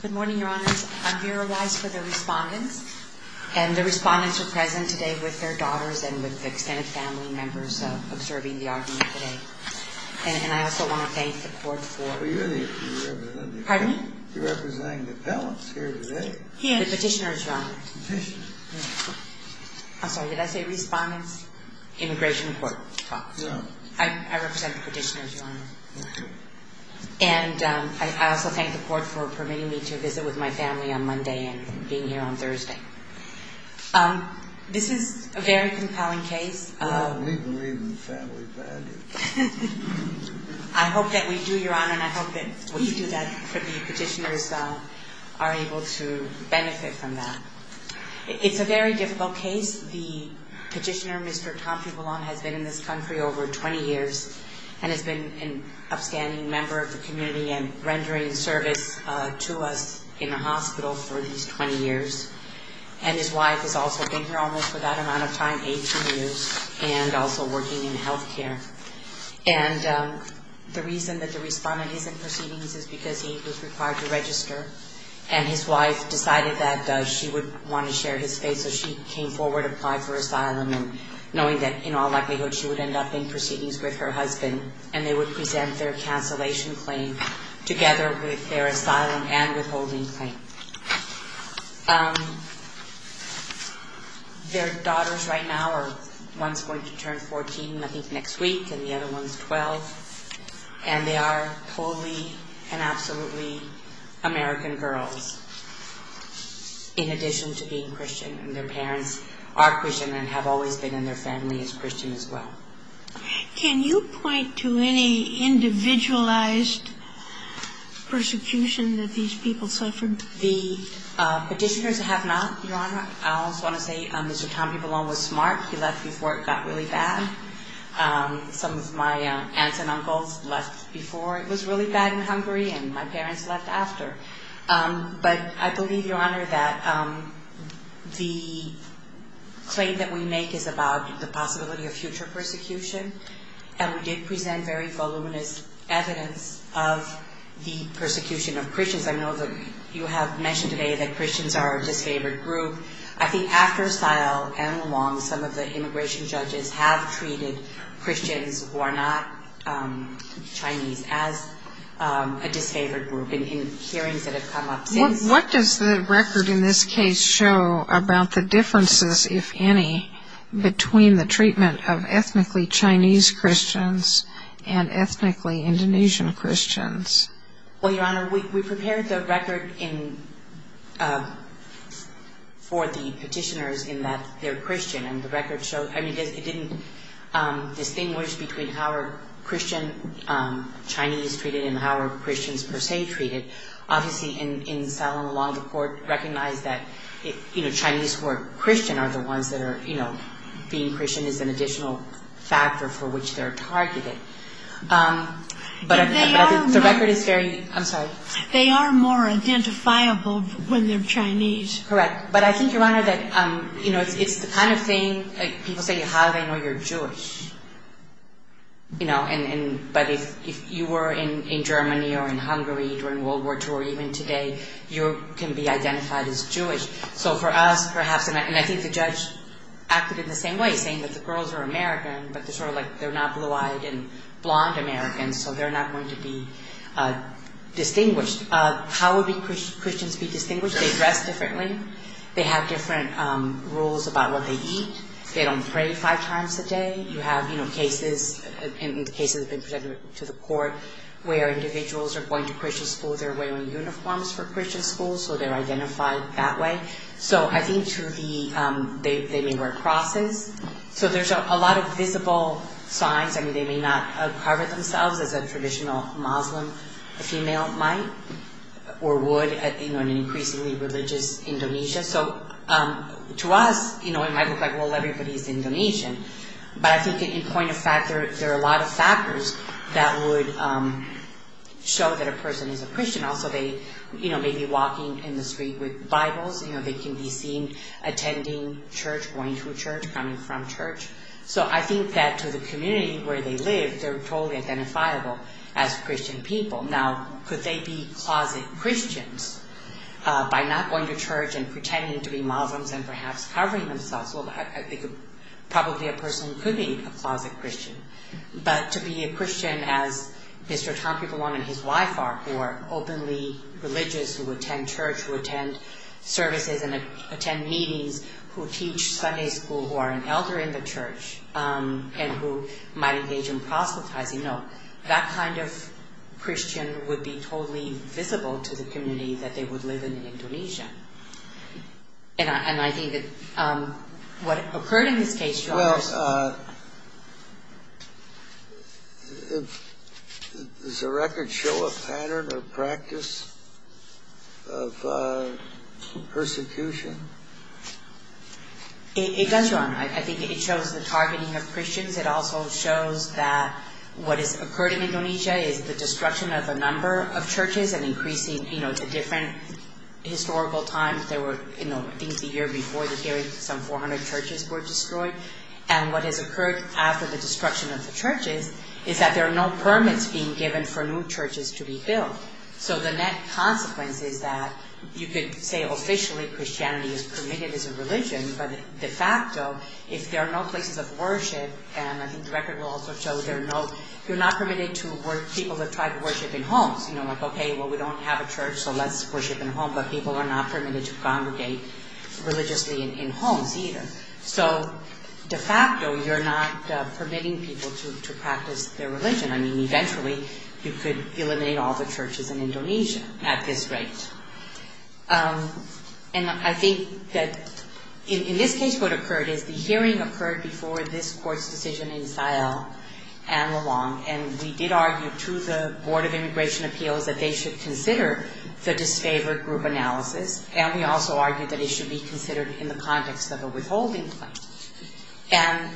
Good morning, Your Honors. I'm here for the respondents. And the respondents are present today with their daughters and with extended family members observing the argument today. And I also want to thank the court for Pardon me? You're representing the appellants here today. The petitioners, Your Honor. Petitioners. I'm sorry, did I say respondents? Immigration Court talks. No. I represent the petitioners, Your Honor. Okay. And I also thank the court for permitting me to visit with my family on Monday and being here on Thursday. This is a very compelling case. We believe in family values. I hope that we do, Your Honor, and I hope that we do that for the petitioners are able to benefit from that. It's a very difficult case. The petitioner, Mr. Tampubolon, has been in this country over 20 years and has been an upstanding member of the community and rendering service to us in the hospital for these 20 years. And his wife has also been here almost for that amount of time, 18 years, and also working in health care. And the reason that the respondent is in proceedings is because he was required to register. And his wife decided that she would want to share his fate, so she came forward, applied for asylum, knowing that in all likelihood she would end up in proceedings with her husband, and they would present their cancellation claim together with their asylum and withholding claim. Their daughters right now are, one's going to turn 14, I think, next week, and the other one's 12. And they are totally and absolutely American girls, in addition to being Christian. And their parents are Christian and have always been in their family as Christian as well. Can you point to any individualized persecution that these people suffered? The petitioners have not, Your Honor. I also want to say Mr. Tampubolon was smart. He left before it got really bad. Some of my aunts and uncles left before it was really bad in Hungary, and my parents left after. But I believe, Your Honor, that the claim that we make is about the possibility of future persecution. And we did present very voluminous evidence of the persecution of Christians. I know that you have mentioned today that Christians are a disfavored group. I think after Sile and along, some of the immigration judges have treated Christians who are not Chinese as a disfavored group in hearings that have come up since. What does the record in this case show about the differences, if any, between the treatment of ethnically Chinese Christians and ethnically Indonesian Christians? Well, Your Honor, we prepared the record for the petitioners in that they're Christian. And the record showed, I mean, it didn't distinguish between how are Christian Chinese treated and how are Christians per se treated. Obviously, in Sile and along, the court recognized that, you know, Chinese who are Christian are the ones that are, you know, being Christian is an additional factor for which they're targeted. But the record is very, I'm sorry. They are more identifiable when they're Chinese. Correct. But I think, Your Honor, that, you know, it's the kind of thing, people say, how do they know you're Jewish? You know, but if you were in Germany or in Hungary during World War II or even today, you can be identified as Jewish. So for us, perhaps, and I think the judge acted in the same way, saying that the girls are American, but they're sort of like they're not blue-eyed and blonde Americans, so they're not going to be distinguished. How would Christians be distinguished? They dress differently. They have different rules about what they eat. They don't pray five times a day. You have, you know, cases, in the cases that have been presented to the court, where individuals are going to Christian schools, they're wearing uniforms for Christian schools, so they're identified that way. So I think to the, they may wear crosses. So there's a lot of visible signs. I mean, they may not cover themselves as a traditional Muslim female might or would, you know, in an increasingly religious Indonesia. So to us, you know, it might look like, well, everybody's Indonesian. But I think in point of fact, there are a lot of factors that would show that a person is a Christian. Also, they, you know, may be walking in the street with Bibles. You know, they can be seen attending church, going to church, coming from church. So I think that to the community where they live, they're totally identifiable as Christian people. Now, could they be closet Christians by not going to church and pretending to be Muslims and perhaps covering themselves? Well, I think probably a person could be a closet Christian. But to be a Christian as Mr. Tompipolong and his wife are, who are openly religious, who attend church, who attend services and attend meetings, who teach Sunday school, who are an elder in the church, and who might engage in proselytizing, no, that kind of Christian would be totally visible to the community that they would live in Indonesia. And I think that what occurred in this case to us. Does the record show a pattern or practice of persecution? It does, Ron. I think it shows the targeting of Christians. It also shows that what has occurred in Indonesia is the destruction of a number of churches and increasing, you know, to different historical times. There were, you know, I think the year before the hearing, some 400 churches were destroyed. And what has occurred after the destruction of the churches is that there are no permits being given for new churches to be built. So the net consequence is that you could say officially Christianity is permitted as a religion, but de facto, if there are no places of worship, and I think the record will also show there are no, you're not permitted to work, people that try to worship in homes. You know, like, okay, well, we don't have a church, so let's worship in a home. But people are not permitted to congregate religiously in homes either. So de facto, you're not permitting people to practice their religion. I mean, eventually, you could eliminate all the churches in Indonesia at this rate. And I think that in this case, what occurred is the hearing occurred before this court's decision in Sial and Lelong, and we did argue to the Board of Immigration Appeals that they should consider the disfavored group analysis, and we also argued that it should be considered in the context of a withholding claim. And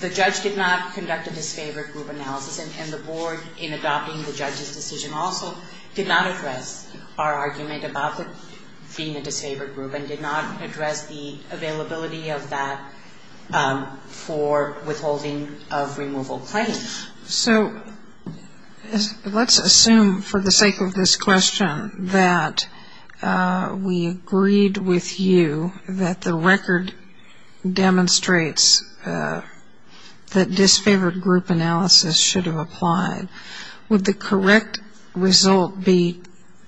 the judge did not conduct a disfavored group analysis, and the Board, in adopting the judge's decision also, did not address our argument about being a disfavored group and did not address the availability of that for withholding of removal claims. So let's assume for the sake of this question that we agreed with you that the record demonstrates that disfavored group analysis should have applied. Would the correct result be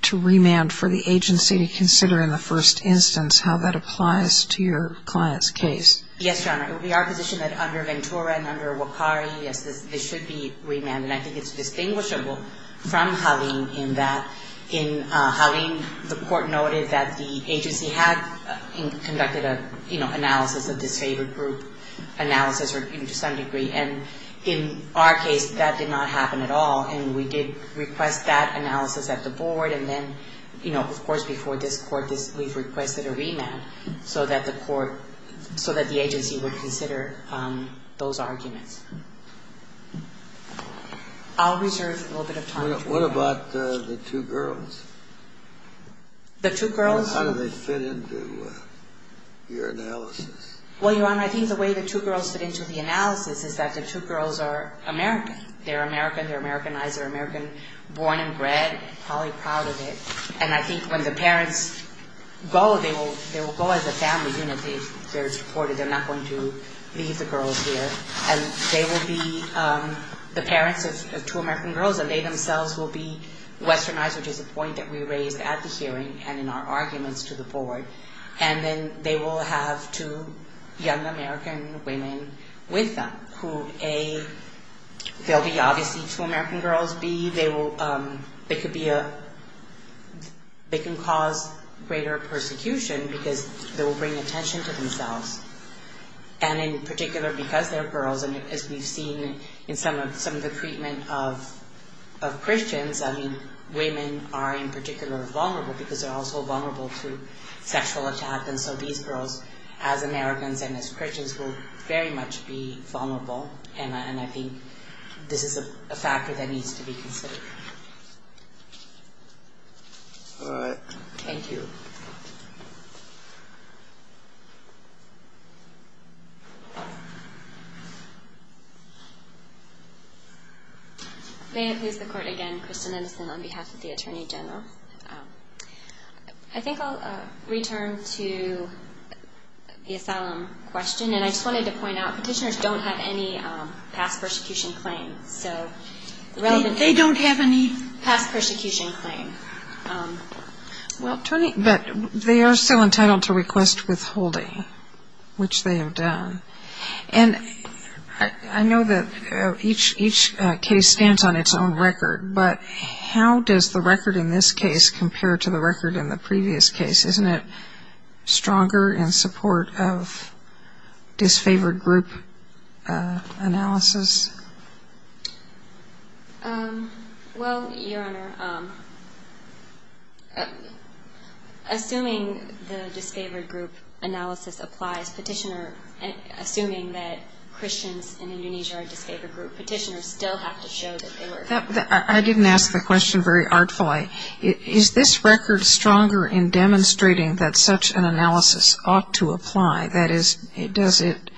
to remand for the agency to consider in the first instance how that applies to your client's case? Yes, Your Honor. It would be our position that under Ventura and under Wakari, yes, this should be remanded, and I think it's distinguishable from Halim in that in Halim, the court noted that the agency had conducted an analysis of disfavored group analysis to some degree, and in our case, that did not happen at all, and we did request that analysis at the board, and then, of course, before this court, we've requested a remand so that the court, so that the agency would consider those arguments. I'll reserve a little bit of time. What about the two girls? The two girls? How do they fit into your analysis? Well, Your Honor, I think the way the two girls fit into the analysis is that the two girls are American. They're American. They're Americanized. They're American born and bred. I'm probably proud of it, and I think when the parents go, they will go as a family unit. They're supported. They're not going to leave the girls here, and they will be the parents of two American girls, and they themselves will be Westernized, which is a point that we raised at the hearing and in our arguments to the board, and then they will have two young American women with them, who A, they'll be obviously two American girls. B, they can cause greater persecution because they will bring attention to themselves, and in particular because they're girls, and as we've seen in some of the treatment of Christians, I mean, women are in particular vulnerable because they're also vulnerable to sexual attack, and so these girls, as Americans and as Christians, will very much be vulnerable, and I think this is a factor that needs to be considered. All right. Thank you. May it please the Court again, Kristen Innocent on behalf of the Attorney General. I think I'll return to the asylum question, and I just wanted to point out petitioners don't have any past persecution claims. They don't have any past persecution claims. Well, but they are still entitled to request withholding, which they have done, and I know that each case stands on its own record, but how does the record in this case compare to the record in the previous case? Isn't it stronger in support of disfavored group analysis? Well, Your Honor, assuming the disfavored group analysis applies, assuming that Christians in Indonesia are a disfavored group, petitioners still have to show that they were. I didn't ask the question very artfully. Is this record stronger in demonstrating that such an analysis ought to apply? That is, does it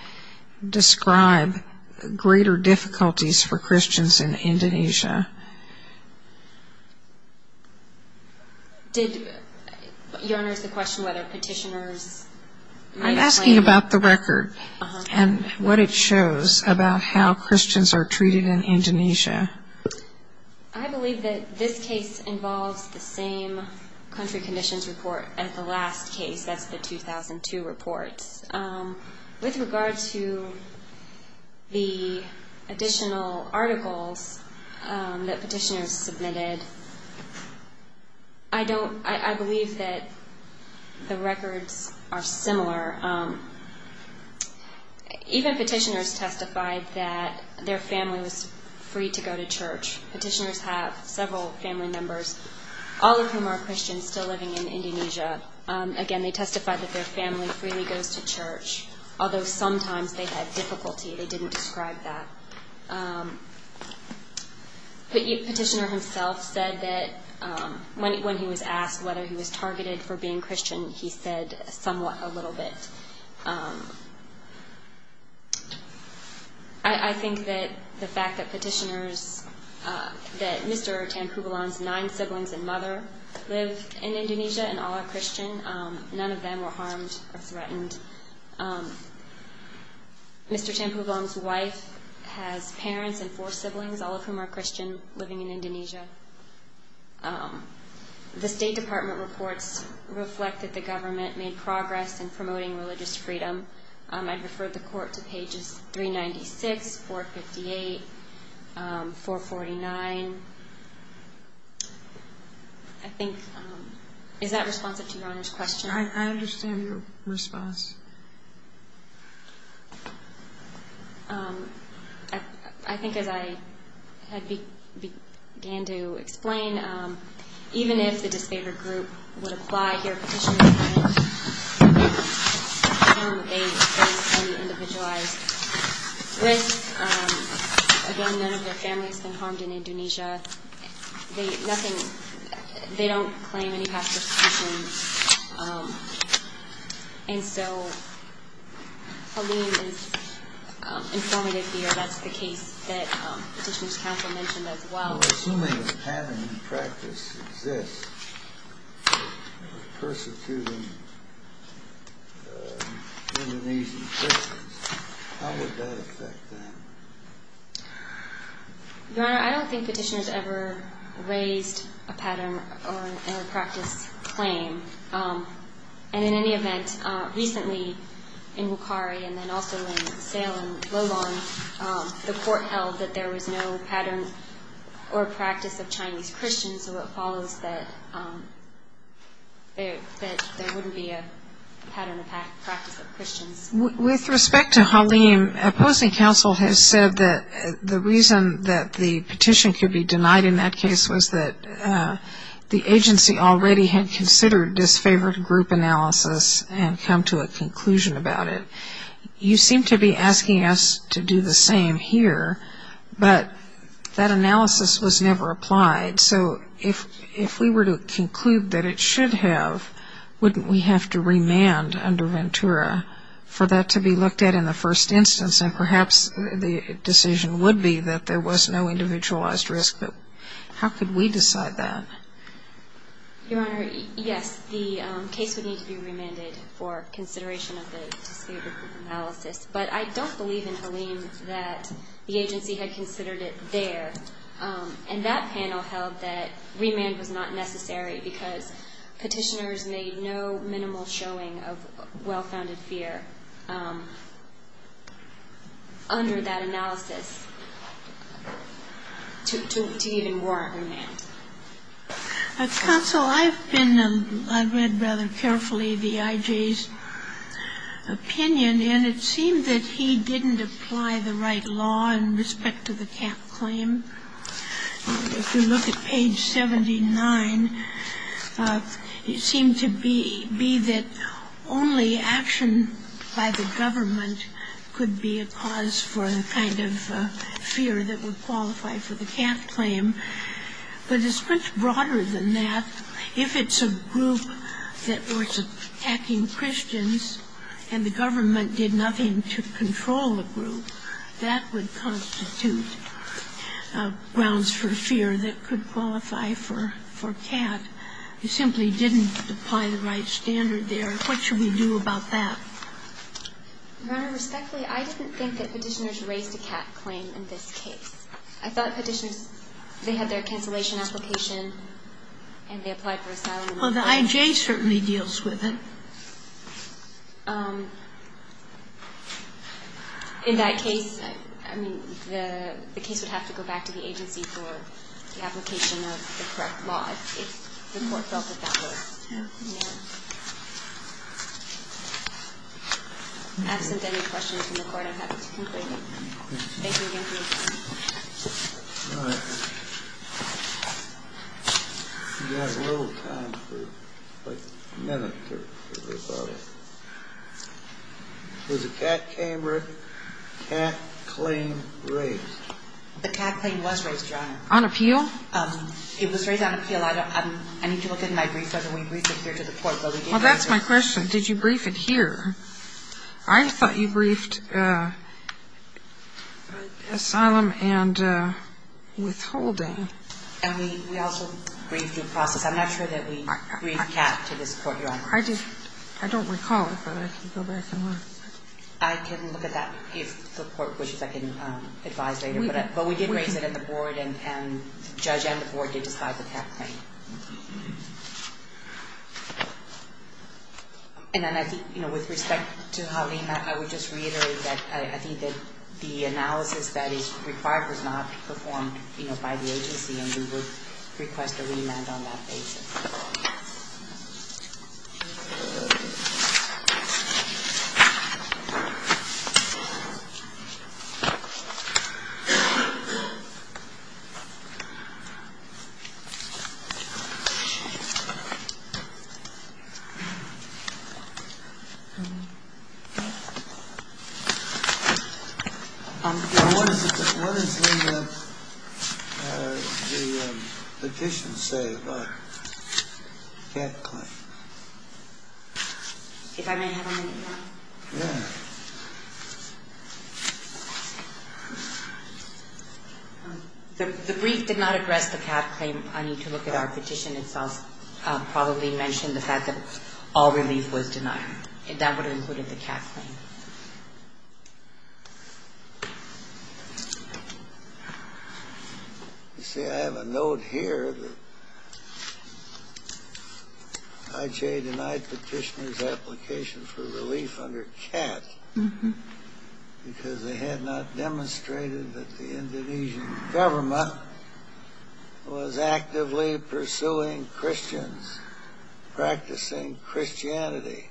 describe greater difficulties for Christians in Indonesia? Did, Your Honor, is the question whether petitioners might claim? I'm asking about the record and what it shows about how Christians are treated in Indonesia. I believe that this case involves the same country conditions report as the last case, that's the 2002 report. With regard to the additional articles that petitioners submitted, I believe that the records are similar. Even petitioners testified that their family was free to go to church. Petitioners have several family members, all of whom are Christians still living in Indonesia. Again, they testified that their family freely goes to church, although sometimes they had difficulty. They didn't describe that. The petitioner himself said that when he was asked whether he was targeted for being Christian, he said somewhat, a little bit. I think that the fact that petitioners, that Mr. Tanpubulan's nine siblings and mother live in Indonesia and all are Christian, none of them were harmed or threatened. Mr. Tanpubulan's wife has parents and four siblings, all of whom are Christian, living in Indonesia. The State Department reports reflect that the government made progress in promoting religious freedom. I'd refer the Court to pages 396, 458, 449. I think, is that responsive to Your Honor's question? I understand your response. I think as I had began to explain, even if the disfavored group would apply here, petitioners claim that they face any individualized risk. Again, none of their family has been harmed in Indonesia. They don't claim any past persecution. And so, Halim is informative here. That's the case that Petitioner's Counsel mentioned as well. Assuming a pattern in practice exists of persecuting Indonesian Christians, how would that affect them? Your Honor, I don't think petitioners ever raised a pattern or a practice claim. And in any event, recently in Bukhari and then also in Salem, Lolon, the Court held that there was no pattern or practice of Chinese Christians, so it follows that there wouldn't be a pattern of practice of Christians. With respect to Halim, opposing counsel has said that the reason that the petition could be denied in that case was that the agency already had considered disfavored group analysis and come to a conclusion about it. You seem to be asking us to do the same here, but that analysis was never applied. So if we were to conclude that it should have, wouldn't we have to remand under Ventura for that to be looked at in the first instance? And perhaps the decision would be that there was no individualized risk, but how could we decide that? Your Honor, yes, the case would need to be remanded for consideration of the disfavored group analysis. But I don't believe in Halim that the agency had considered it there. And that panel held that remand was not necessary because petitioners made no minimal showing of well-founded fear under that analysis. To even warrant a remand. Counsel, I've been, I read rather carefully the IJ's opinion, and it seemed that he didn't apply the right law in respect to the cap claim. If you look at page 79, it seemed to be that only action by the government could be a cause for the kind of fear that would qualify for the cap claim. But it's much broader than that. If it's a group that were attacking Christians and the government did nothing to control the group, that would constitute grounds for fear that could qualify for cap. You simply didn't apply the right standard there. What should we do about that? Your Honor, respectfully, I didn't think that petitioners raised a cap claim in this case. I thought petitioners, they had their cancellation application and they applied for asylum. Well, the IJ certainly deals with it. In that case, I mean, the case would have to go back to the agency for the application of the correct law. If the court felt that that was the case. Absent any questions from the court, I'm happy to conclude. Thank you again for your time. All right. We've got a little time for, like, a minute or so. Was the cap claim raised? The cap claim was raised, Your Honor. On appeal? It was raised on appeal. Well, that's my question. Did you brief it here? I thought you briefed asylum and withholding. And we also briefed due process. I'm not sure that we briefed cap to this court, Your Honor. I don't recall it, but I can go back and look. I can look at that if the court wishes. I can advise later. But we did raise it at the board, and the judge and the board did decide the cap claim. And then I think, you know, with respect to how we met, I would just reiterate that I think that the analysis that is required was not performed, you know, by the agency, and we would request a remand on that basis. Thank you. What does the petition say about cap claim? If I may have a minute, Your Honor? Yeah. The brief did not address the cap claim. I need to look at our petition itself. It probably mentioned the fact that all relief was denied. That would have included the cap claim. You see, I have a note here that IJ denied petitioner's application for relief under cap because they had not demonstrated that the Indonesian government was actively pursuing Christians, practicing Christianity.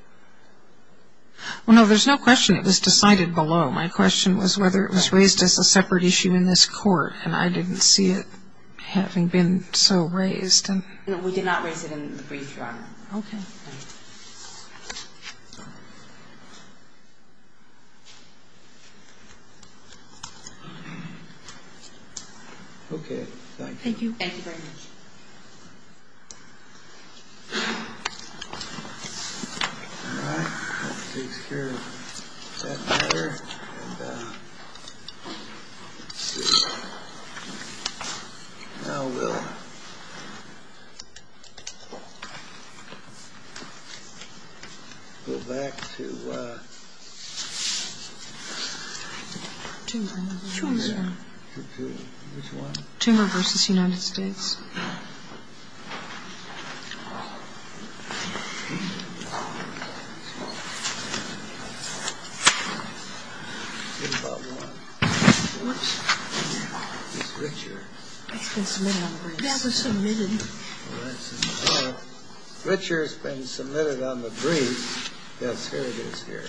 Well, no, there's no question it was decided below. My question was whether it was raised as a separate issue in this court, and I didn't see it having been so raised. We did not raise it in the brief, Your Honor. Okay. Okay. Thank you. Thank you very much. All right. Let's take care of that matter. And now we'll go back to chamber versus United States. Richard has been submitted on the brief. Yes, here it is here.